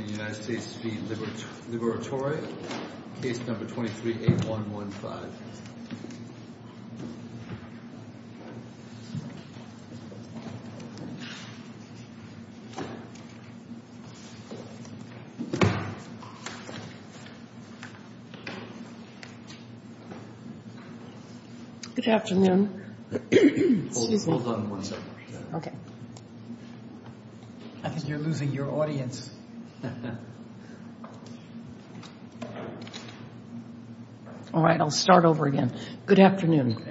and the United States v. Liberatore, case number 23-8115. Good afternoon. Hold on one second. Okay. I think you're losing your audience. All right. I'll start over again. Good afternoon.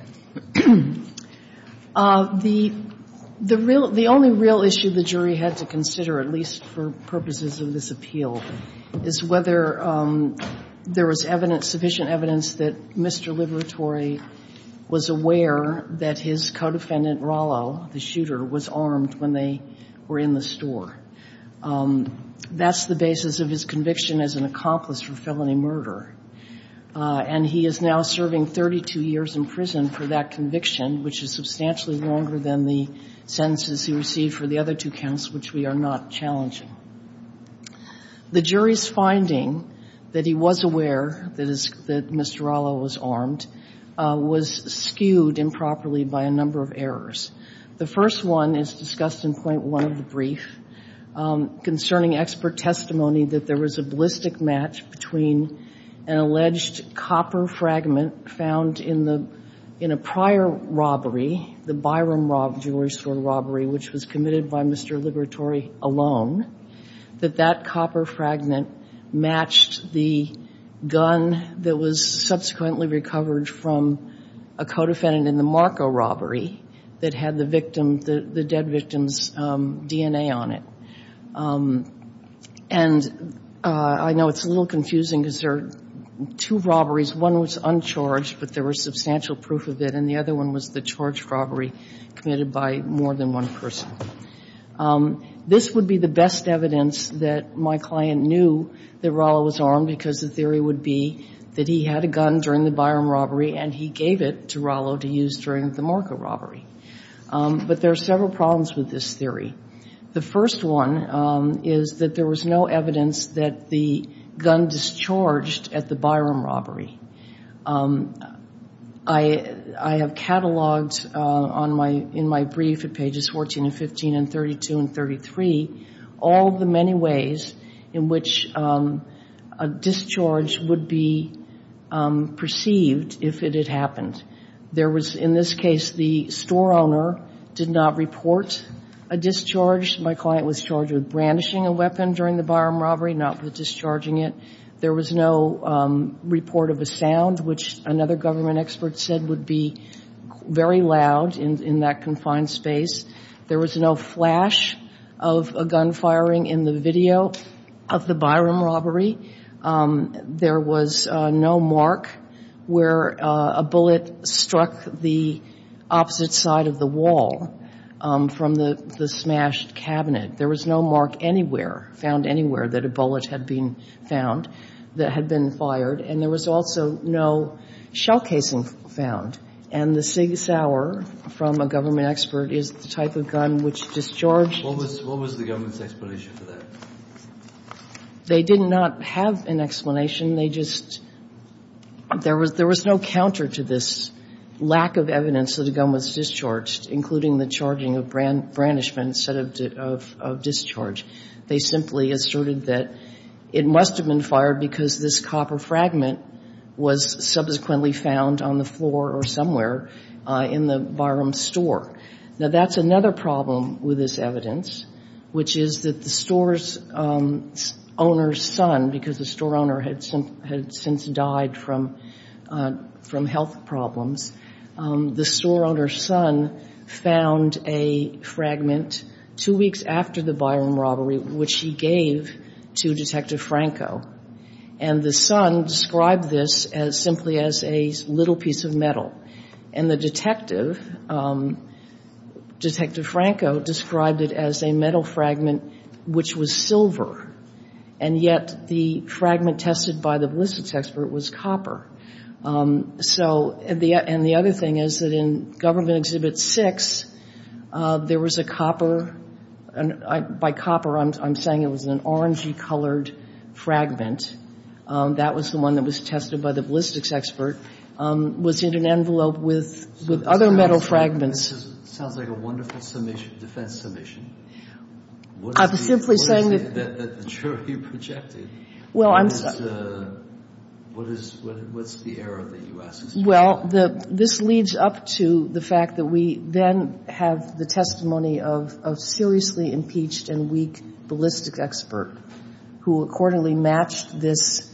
The only real issue the jury had to consider, at least for purposes of this appeal, is whether there was sufficient evidence that Mr. Liberatore was aware that his computer was armed when they were in the store. That's the basis of his conviction as an accomplice for felony murder. And he is now serving 32 years in prison for that conviction, which is substantially longer than the sentences he received for the other two counts, which we are not challenging. The jury's finding that he was aware that Mr. Rallo was armed was skewed improperly by a number of errors. The first one is discussed in point one of the brief concerning expert testimony that there was a ballistic match between an alleged copper fragment found in a prior robbery, the Byram Jewelry Store robbery, which was committed by Mr. Liberatore alone, that that copper fragment matched the gun that was subsequently recovered from a co-defendant in the Marco robbery that had the victim, the dead victim's DNA on it. And I know it's a little confusing because there are two robberies. One was uncharged, but there was substantial proof of it. And the other one was the charged robbery committed by more than one person. This would be the best evidence that my client knew that Rallo was armed because the theory would be that he had a gun during the Byram robbery and he gave it to Rallo to use during the Marco robbery. But there are several problems with this theory. The first one is that there was no evidence that the gun discharged at the Byram robbery. I have cataloged in my brief at pages 14 and 15 and 32 and 33 all the many ways in which a discharge would be perceived if it had happened. There was, in this case, the store owner did not report a discharge. My client was charged with brandishing a weapon during the Byram robbery, not with discharging it. There was no report of a sound, which another government expert said would be very loud in that confined space. There was no flash of a gun firing in the video of the Byram robbery. There was no mark where a bullet struck the opposite side of the wall from the smashed cabinet. There was no mark anywhere, found anywhere, that a bullet had been found that had been fired. And there was also no shell casing found. And the SIG Sauer, from a government expert, is the type of gun which discharged What was the government's explanation for that? They did not have an explanation. They just – there was no counter to this lack of evidence that a gun was discharged, including the charging of brandishments instead of discharge. They simply asserted that it must have been fired because this copper fragment was subsequently found on the floor or somewhere in the Byram store. Now, that's another problem with this evidence, which is that the store's owner's son, because the store owner had since died from health problems, the store owner's son found a fragment two weeks after the Byram robbery, which he gave to Detective Franco. And the son described this simply as a little piece of metal. And the detective, Detective Franco, described it as a metal fragment which was silver. And yet the fragment tested by the ballistics expert was copper. So – and the other thing is that in Government Exhibit 6, there was a copper – by copper, I'm saying it was an orangey-colored fragment. That was the one that was tested by the ballistics expert, was in an envelope with other metal fragments. Sounds like a wonderful defense submission. I'm simply saying that – What is it that the jury projected? Well, I'm – What is – what's the error that you asked? Well, this leads up to the fact that we then have the testimony of a seriously impeached and weak ballistics expert who accordingly matched this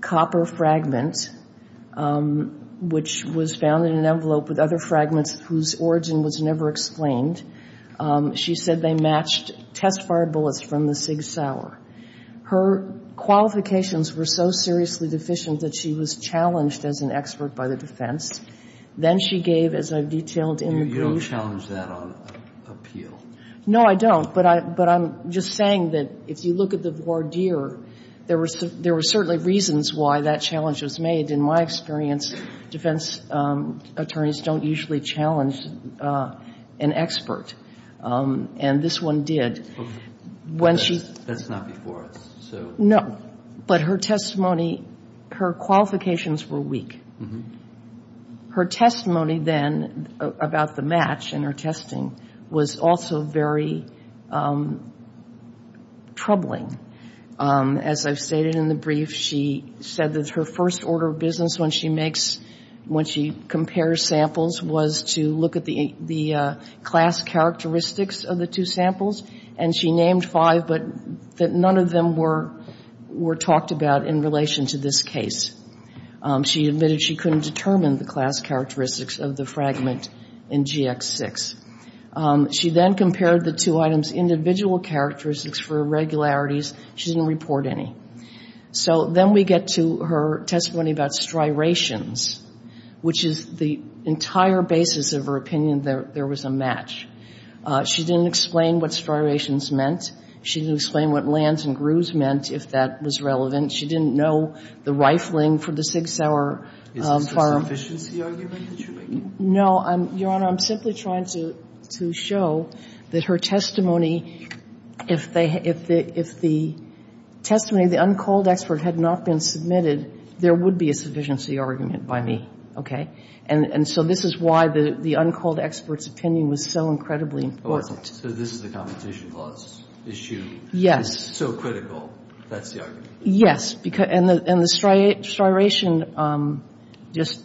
copper fragment, which was found in an envelope with other fragments whose origin was never explained. She said they matched test-fired bullets from the Sig Sauer. Her qualifications were so seriously deficient that she was challenged as an expert by the defense. Then she gave, as I've detailed in the brief – You don't challenge that on appeal. No, I don't. But I'm just saying that if you look at the voir dire, there were certainly reasons why that challenge was made. In my experience, defense attorneys don't usually challenge an expert. And this one did. That's not before us. No. But her testimony – her qualifications were weak. Her testimony then about the match and her testing was also very troubling. As I've stated in the brief, she said that her first order of business when she makes – when she compares samples was to look at the class characteristics of the two samples. And she named five, but none of them were talked about in relation to this case. She admitted she couldn't determine the class characteristics of the fragment in GX6. She then compared the two items' individual characteristics for irregularities. She didn't report any. So then we get to her testimony about striations, which is the entire basis of her opinion that there was a match. She didn't explain what striations meant. She didn't explain what lands and grooves meant, if that was relevant. She didn't know the rifling for the Sig Sauer firearm. Is this a sufficiency argument that you're making? Your Honor, I'm simply trying to show that her testimony, if the testimony of the uncalled expert had not been submitted, there would be a sufficiency argument by me, okay? And so this is why the uncalled expert's opinion was so incredibly important. So this is a competition clause issue. Yes. So critical. That's the argument. Yes. And the striation, just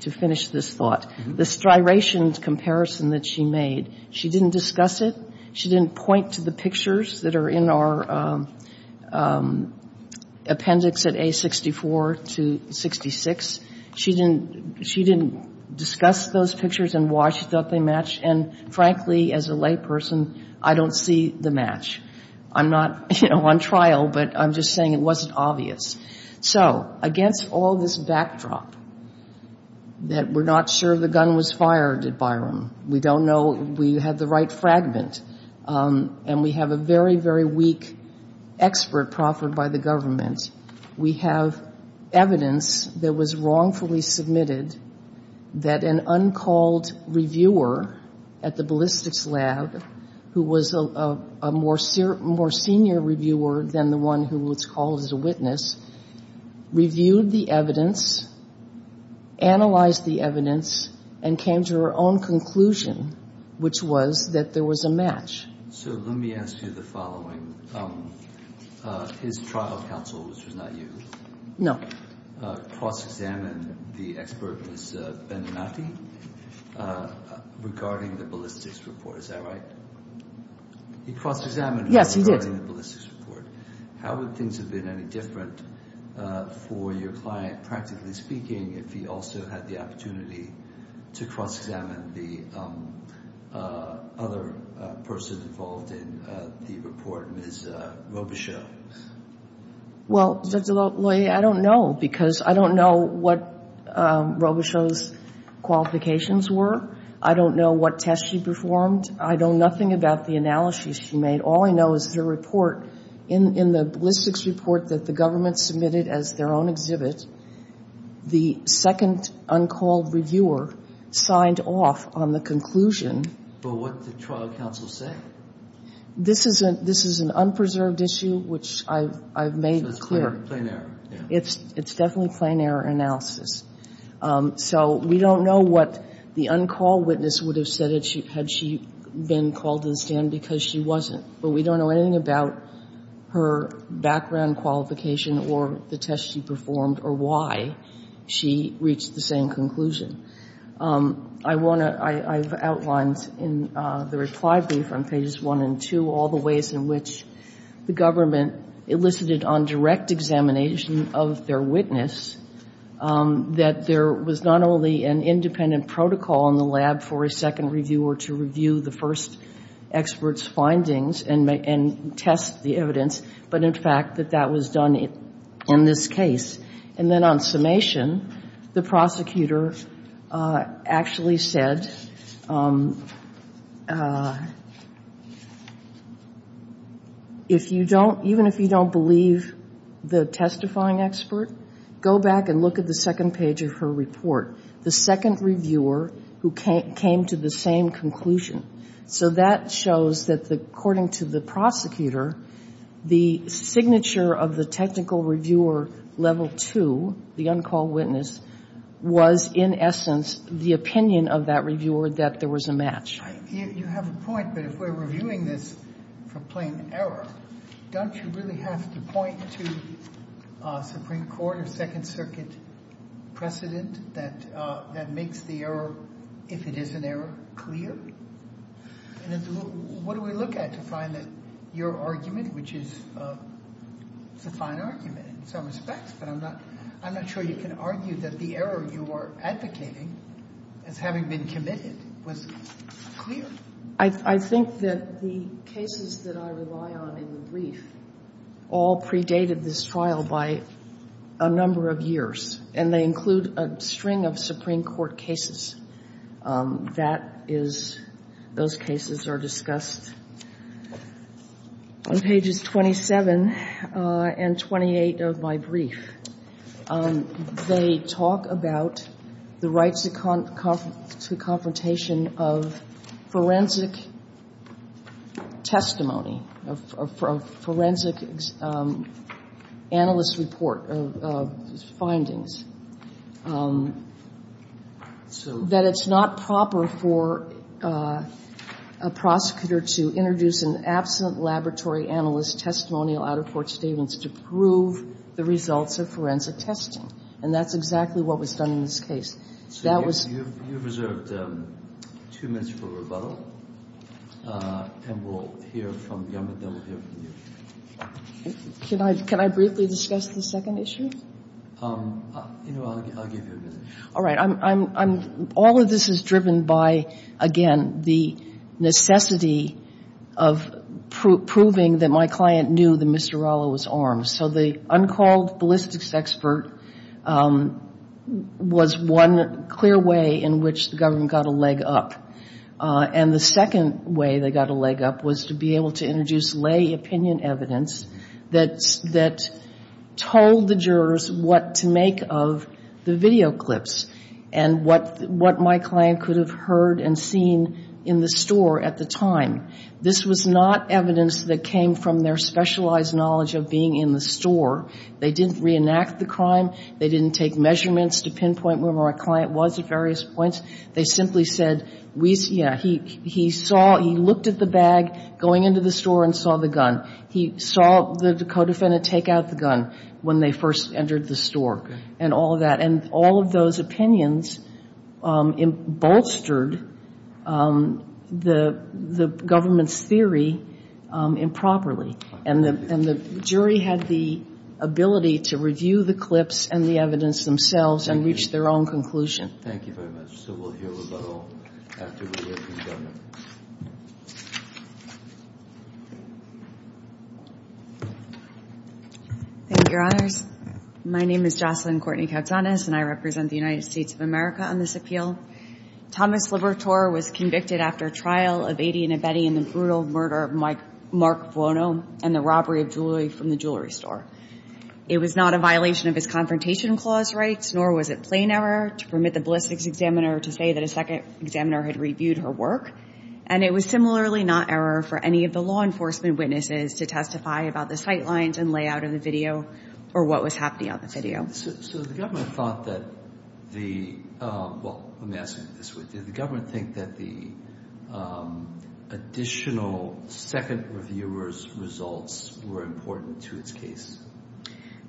to finish this thought, the striations comparison that she made, she didn't discuss it. She didn't point to the pictures that are in our appendix at A64 to 66. She didn't discuss those pictures and why she thought they matched. And frankly, as a layperson, I don't see the match. I'm not, you know, on trial, but I'm just saying it wasn't obvious. So against all this backdrop that we're not sure the gun was fired at Byram, we don't know if we had the right fragment, and we have a very, very weak expert proffered by the government, we have evidence that was wrongfully submitted that an uncalled reviewer at the ballistics lab, who was a more senior reviewer than the one who was called as a witness, reviewed the evidence, analyzed the evidence, and came to her own conclusion, which was that there was a match. So let me ask you the following. His trial counsel, which was not you. No. He did cross-examine the expert, Ms. Beninati, regarding the ballistics report. Is that right? He cross-examined her regarding the ballistics report. How would things have been any different for your client, practically speaking, if he also had the opportunity to cross-examine the other person involved in the report, Ms. Robichaux? Well, Judge LaLoyer, I don't know, because I don't know what Robichaux's qualifications were. I don't know what tests she performed. I know nothing about the analyses she made. All I know is her report. In the ballistics report that the government submitted as their own exhibit, the second uncalled reviewer signed off on the conclusion. But what did the trial counsel say? This is an unpreserved issue, which I've made clear. So it's plain error. It's definitely plain error analysis. So we don't know what the uncalled witness would have said had she been called to the stand, because she wasn't. But we don't know anything about her background, qualification, or the tests she performed or why she reached the same conclusion. I want to — I've outlined in the reply brief on pages 1 and 2 all the ways in which the government elicited on direct examination of their witness that there was not only an independent protocol in the lab for a second reviewer to review the first expert's findings and test the evidence, but, in fact, that that was done in this case. And then on summation, the prosecutor actually said, if you don't — even if you don't believe the testifying expert, go back and look at the second page of her report, the second reviewer who came to the same conclusion. So that shows that, according to the prosecutor, the signature of the technical reviewer level 2, the uncalled witness, was, in essence, the opinion of that reviewer that there was a match. You have a point, but if we're reviewing this for plain error, don't you really have to point to Supreme Court or Second Circuit precedent that makes the error, if it is an error, clear? And what do we look at to find that your argument, which is a fine argument in some respects, but I'm not sure you can argue that the error you are advocating as having been committed was clear? I think that the cases that I rely on in the brief all predated this trial by a number of years, and they include a string of Supreme Court cases that is, those cases are discussed on pages 27 and 28 of my brief. They talk about the rights to confrontation of forensic testimony, of forensic analyst report of findings. That it's not proper for a prosecutor to introduce an absent laboratory analyst testimonial out of Fort Stevens to prove the results of forensic testing. And that's exactly what was done in this case. So that was... You have reserved two minutes for rebuttal, and we'll hear from you and then we'll hear from you. Can I briefly discuss the second issue? I'll give you a minute. All right. All of this is driven by, again, the necessity of proving that my client knew that Mr. Rallo was armed. So the uncalled ballistics expert was one clear way in which the government got a leg up. And the second way they got a leg up was to be able to introduce lay opinion evidence that told the jurors what to make of the video clips and what my client could have heard and seen in the store at the time. This was not evidence that came from their specialized knowledge of being in the store. They didn't reenact the crime. They didn't take measurements to pinpoint where my client was at various points. They simply said, yeah, he looked at the bag going into the store and saw the gun. He saw the co-defendant take out the gun when they first entered the store and all of that. And all of those opinions bolstered the government's theory improperly. And the jury had the ability to review the clips and the evidence themselves and reach their own conclusion. Thank you very much. So we'll hear about all after we hear from the government. Thank you, Your Honors. My name is Jocelyn Courtney Kautzanis, and I represent the United States of America on this appeal. Thomas Libertor was convicted after trial of Adian Abedi in the brutal murder of Mark Buono and the robbery of jewelry from the jewelry store. It was not a violation of his Confrontation Clause rights, nor was it plain error to permit the ballistics examiner to say that a second examiner had reviewed her work. And it was similarly not error for any of the law enforcement witnesses to testify about the sight lines and layout of the video or what was happening on the video. So the government thought that the – well, let me ask you this way. Did the government think that the additional second reviewer's results were important to its case?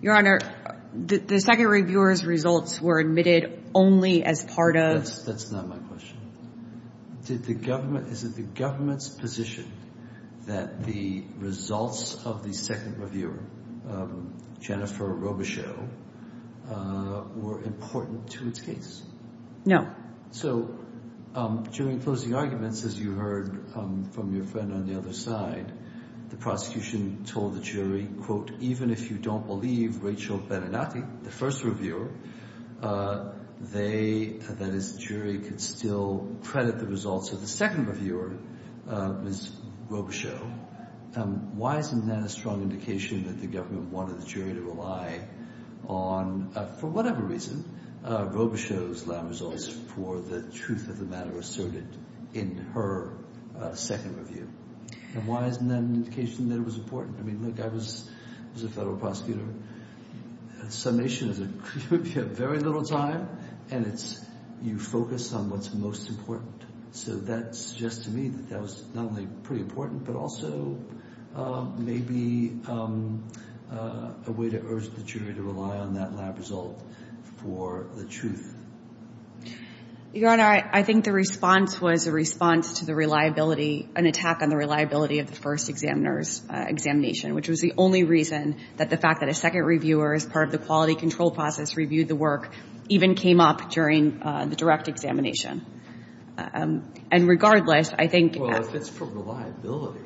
Your Honor, the second reviewer's results were admitted only as part of – That's not my question. Did the government – is it the government's position that the results of the second reviewer, Jennifer Robichaux, were important to its case? No. So during closing arguments, as you heard from your friend on the other side, the prosecution told the jury, quote, even if you don't believe Rachel Beninati, the first reviewer, they – that is, the jury could still credit the results of the second reviewer, Ms. Robichaux. Why isn't that a strong indication that the government wanted the jury to rely on, for whatever reason, Robichaux's lab results for the truth of the matter asserted in her second review? And why isn't that an indication that it was important? I mean, look, I was a federal prosecutor. A summation is a – you have very little time, and it's – you focus on what's most important. So that suggests to me that that was not only pretty important, but also maybe a way to urge the jury to rely on that lab result for the truth. Your Honor, I think the response was a response to the reliability – an attack on the reliability of the first examiner's examination, which was the only reason that the fact that a second reviewer, as part of the quality control process, reviewed the work, even came up during the direct examination. And regardless, I think – Well, if it's for reliability,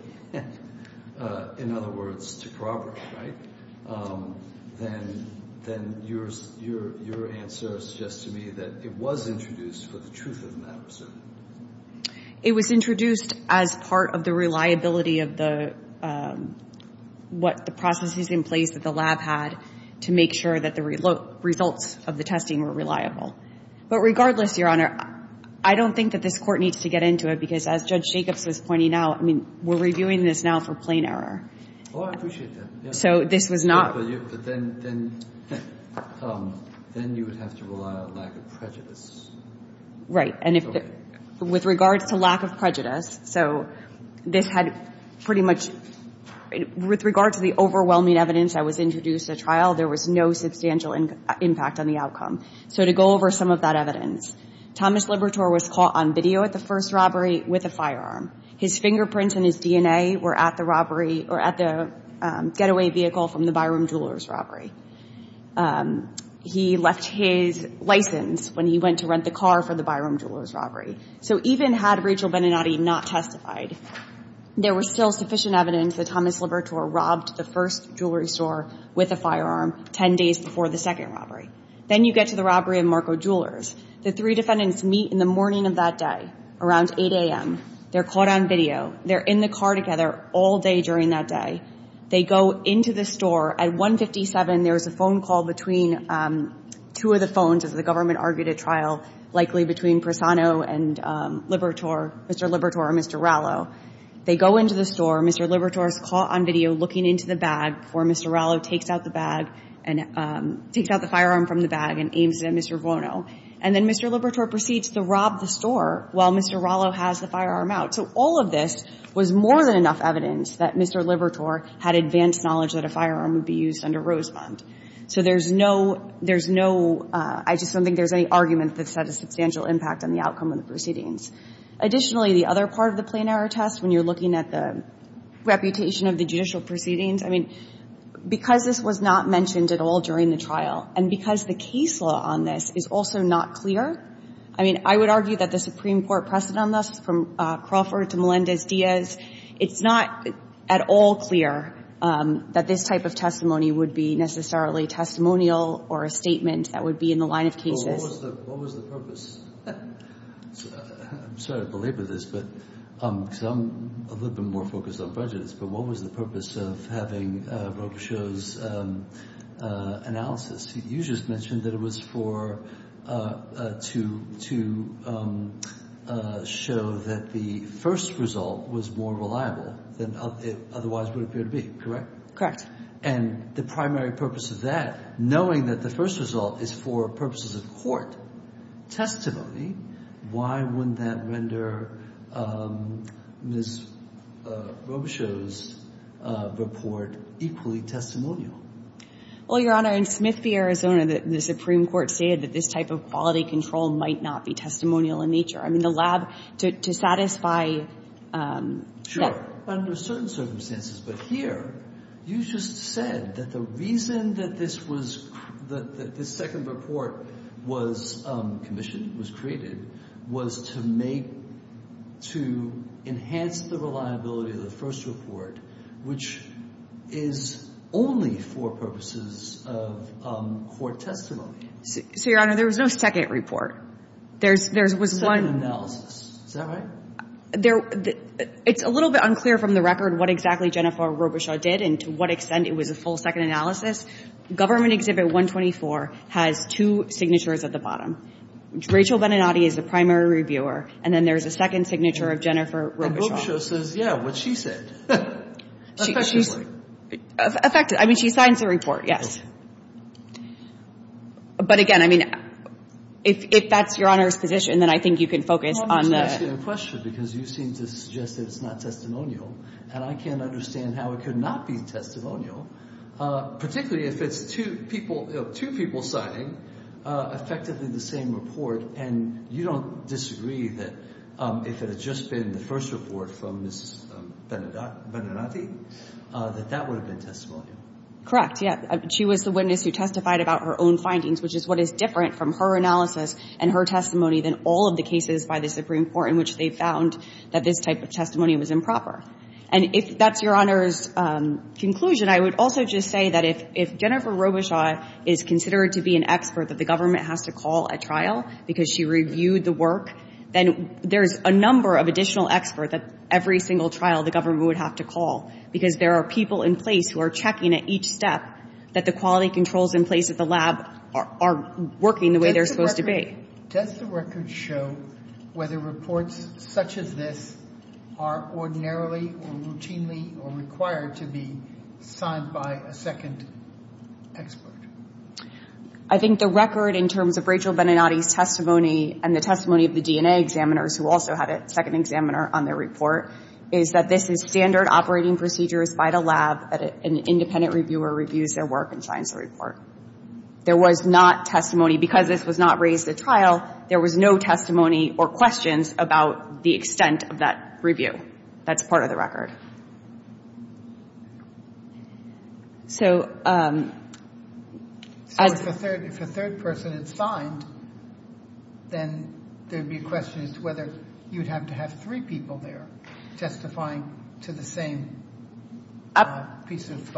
in other words, to corroborate, right, then your answer suggests to me that it was introduced for the truth of the matter. It was introduced as part of the reliability of the – what the processes in place that the lab had to make sure that the results of the testing were reliable. But regardless, Your Honor, I don't think that this Court needs to get into it, because as Judge Jacobs was pointing out, I mean, we're reviewing this now for plain error. Oh, I appreciate that. So this was not – But then you would have to rely on lack of prejudice. Right. And with regards to lack of prejudice, so this had pretty much – with regard to the overwhelming evidence that was introduced at trial, there was no substantial impact on the outcome. So to go over some of that evidence, Thomas Libertor was caught on video at the first robbery with a firearm. His fingerprints and his DNA were at the robbery – or at the getaway vehicle from the Byram Jewelers robbery. He left his license when he went to rent the car for the Byram Jewelers robbery. So even had Rachel Beninati not testified, there was still sufficient evidence that Thomas Libertor robbed the first jewelry store with a firearm 10 days before the second robbery. Then you get to the robbery of Marco Jewelers. The three defendants meet in the morning of that day, around 8 a.m. They're caught on video. They're in the car together all day during that day. They go into the store. At 157, there was a phone call between two of the phones, as the government argued at trial, likely between Prisano and Libertor – Mr. Libertor and Mr. Rallo. They go into the store. Mr. Libertor is caught on video looking into the bag before Mr. Rallo takes out the bag – takes out the firearm from the bag and aims it at Mr. Vuono. And then Mr. Libertor proceeds to rob the store while Mr. Rallo has the firearm out. So all of this was more than enough evidence that Mr. Libertor had advanced knowledge that a firearm would be used under Rosebond. So there's no – there's no – I just don't think there's any argument that's had a substantial impact on the outcome of the proceedings. Additionally, the other part of the plain error test, when you're looking at the reputation of the judicial proceedings, I mean, because this was not mentioned at all during the trial, and because the case law on this is also not clear – I mean, I would argue that the Supreme Court precedent on this, from Crawford to Melendez-Diaz, it's not at all clear that this type of testimony would be necessarily testimonial or a statement that would be in the line of cases. But what was the – what was the purpose? I'm sorry to belabor this, but – because I'm a little bit more focused on prejudice, but what was the purpose of having Robichaud's analysis? You just mentioned that it was for – to show that the first result was more reliable than it otherwise would appear to be, correct? Correct. And the primary purpose of that, knowing that the first result is for purposes of court testimony, why wouldn't that render Ms. Robichaud's report equally testimonial? Well, Your Honor, in Smith v. Arizona, the Supreme Court stated that this type of quality control might not be testimonial in nature. I mean, the lab – to satisfy – Sure. Under certain circumstances. But here, you just said that the reason that this was – that this second report was commissioned, was created, was to make – to enhance the reliability of the first report, which is only for purposes of court testimony. So, Your Honor, there was no second report. There's – there was one – Second analysis. Is that right? There – it's a little bit unclear from the record what exactly Jennifer Robichaud did and to what extent it was a full second analysis. Government Exhibit 124 has two signatures at the bottom. Rachel Venenati is the primary reviewer, and then there's a second signature of Jennifer Robichaud. But Robichaud says, yeah, what she said. Effectively. I mean, she signs the report, yes. But again, I mean, if that's Your Honor's position, then I think you can focus on the – Well, I'm just asking a question because you seem to suggest that it's not testimonial, and I can't understand how it could not be testimonial, particularly if it's two people – two people signing effectively the same report. And you don't disagree that if it had just been the first report from Ms. Venenati, that that would have been testimonial? Correct, yeah. She was the witness who testified about her own findings, which is what is different from her analysis and her testimony than all of the cases by the Supreme Court in which they found that this type of testimony was improper. And if that's Your Honor's conclusion, I would also just say that if Jennifer Robichaud is considered to be an expert that the government has to call at trial because she reviewed the work, then there's a number of additional experts at every single trial the government would have to call because there are people in place who are checking at each step that the quality controls in place at the lab are working the way they're supposed to be. Does the record show whether reports such as this are ordinarily or routinely or required to be signed by a second expert? I think the record in terms of Rachel Venenati's testimony and the testimony of the DNA examiners who also had a second examiner on their report is that this is standard operating procedures by the lab that an independent reviewer reviews their work and signs the report. There was not testimony. Because this was not raised at trial, there was no testimony or questions about the extent of that review. That's part of the record. So... So if a third person had signed, then there would be a question as to whether you would have to have three people there testifying to the same piece of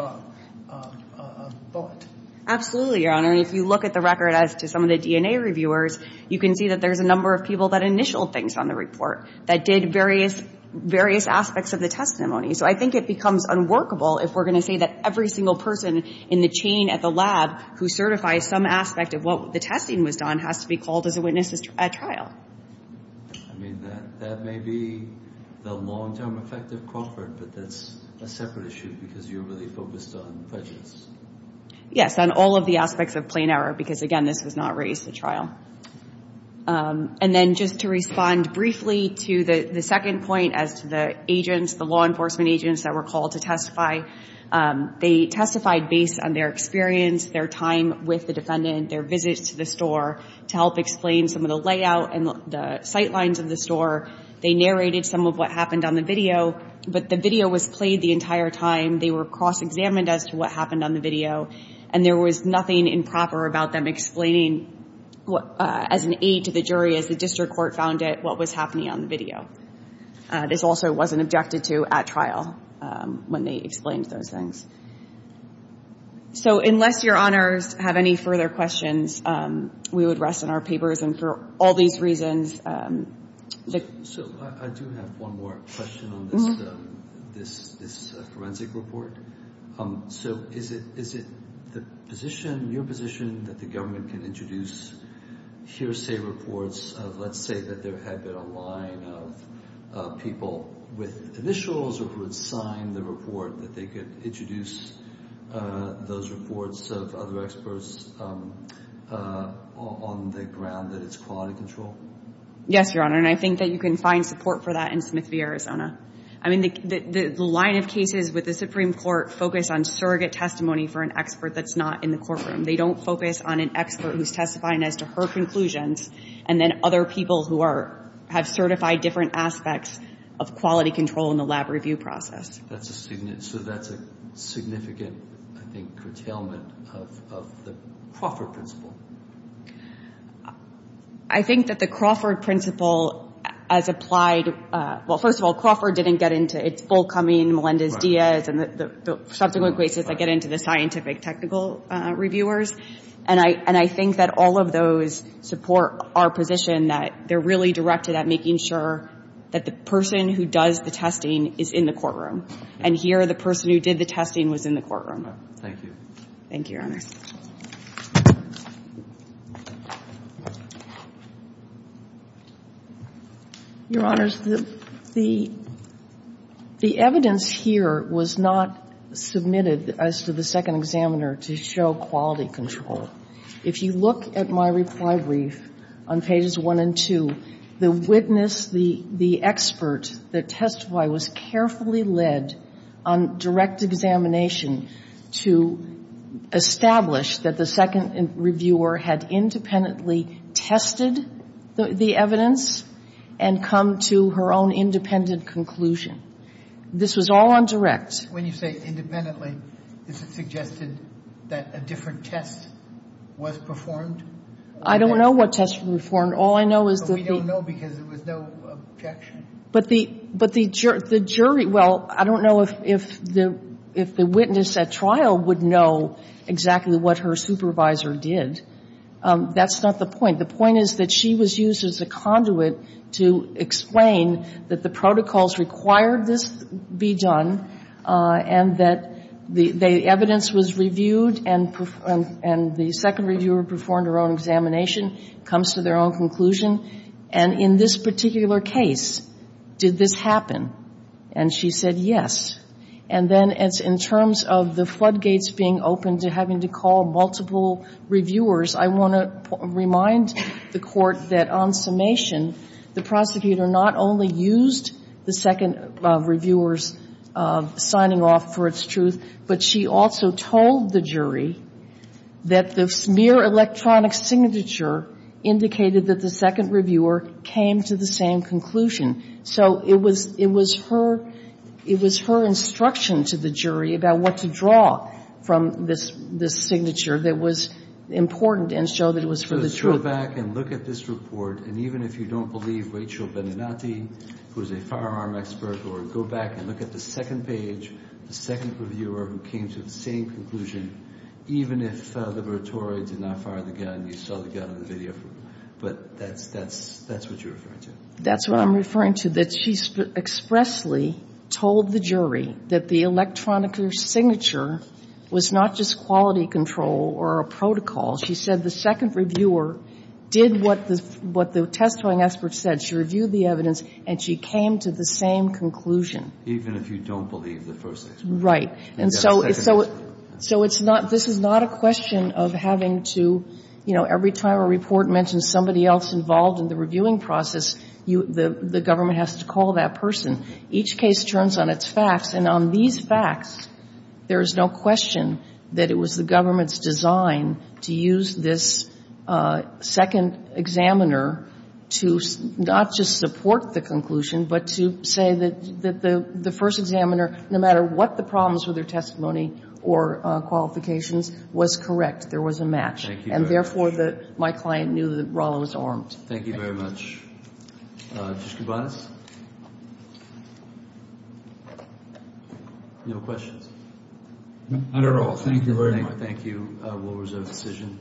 bullet. Absolutely, Your Honor. If you look at the record as to some of the DNA reviewers, you can see that there's a number of people that initialed things on the report that did various aspects of the testimony. So I think it becomes unworkable if we're going to say that every single person in the chain at the lab who certifies some aspect of what the testing was done has to be called as a witness at trial. I mean, that may be the long-term effect of Crawford, but that's a separate issue because you're really focused on prejudice. Yes, on all of the aspects of plain error because, again, this was not raised at trial. And then just to respond briefly to the second point as to the agents, the law enforcement agents that were called to testify, they testified based on their experience, their time with the defendant, their visits to the store to help explain some of the layout and the sight lines of the store. They narrated some of what happened on the video, but the video was played the entire time. They were cross-examined as to what happened on the video, and there was nothing improper about them explaining as an aid to the jury as the district court found out what was happening on the video. This also wasn't objected to at trial when they explained those things. So unless Your Honors have any further questions, we would rest on our papers, and for all these reasons. So I do have one more question on this forensic report. So is it your position that the government can introduce hearsay reports of, let's say, that there had been a line of people with initials or who had signed the report that they could introduce those reports of other experts on the ground that it's quality control? Yes, Your Honor, and I think that you can find support for that in Smith v. Arizona. I mean, the line of cases with the Supreme Court focus on surrogate testimony for an expert that's not in the courtroom. They don't focus on an expert who's testifying as to her conclusions and then other people who have certified different aspects of quality control in the lab review process. So that's a significant, I think, curtailment of the Crawford principle. I think that the Crawford principle, as applied, well, first of all, Crawford didn't get into its full coming, Melendez-Diaz, and the subsequent cases that get into the scientific technical reviewers. And I think that all of those support our position that they're really directed at making sure that the person who does the testing is in the courtroom, and here the person who did the testing was in the courtroom. Thank you. Your Honors, the evidence here was not submitted as to the second examiner to show quality control. If you look at my reply brief on pages 1 and 2, the witness, the expert that testified was carefully led on direct examination to establish that the second reviewer had independently tested the evidence and come to her own independent conclusion. This was all on direct. When you say independently, is it suggested that a different test was performed? I don't know what test was performed. All I know is that the But we don't know because there was no objection. But the jury, well, I don't know if the witness at trial would know exactly what her supervisor did. That's not the point. The point is that she was used as a conduit to explain that the protocols required this be done and that the evidence was reviewed and the second reviewer performed her own examination, comes to their own conclusion. And in this particular case, did this happen? And she said yes. And then in terms of the floodgates being open to having to call multiple reviewers, I want to remind the Court that on summation, the prosecutor not only used the second reviewer's signing off for its truth, but she also told the jury that the mere electronic signature indicated that the second reviewer came to the same conclusion. So it was her instruction to the jury about what to draw from this signature that was important and show that it was for the truth. So let's go back and look at this report. And even if you don't believe Rachel Beninati, who is a firearm expert, or go back and look at the second page, the second reviewer who came to the same conclusion, even if Liberatore did not fire the gun, you saw the gun in the video. But that's what you're referring to. That's what I'm referring to, that she expressly told the jury that the electronic signature was not just quality control or a protocol. She said the second reviewer did what the testifying expert said. She reviewed the evidence, and she came to the same conclusion. Even if you don't believe the first expert? Right. And so it's not this is not a question of having to, you know, every time a report mentions somebody else involved in the reviewing process, the government has to call that person. Each case turns on its facts. And on these facts, there is no question that it was the government's design to use this second examiner to not just support the conclusion, but to say that the first examiner, no matter what the problems were, their testimony or qualifications, was correct. There was a match. And therefore, my client knew that Rolla was armed. Thank you very much. Just goodbye. No questions. Not at all. Thank you very much. Thank you. We'll reserve the decision.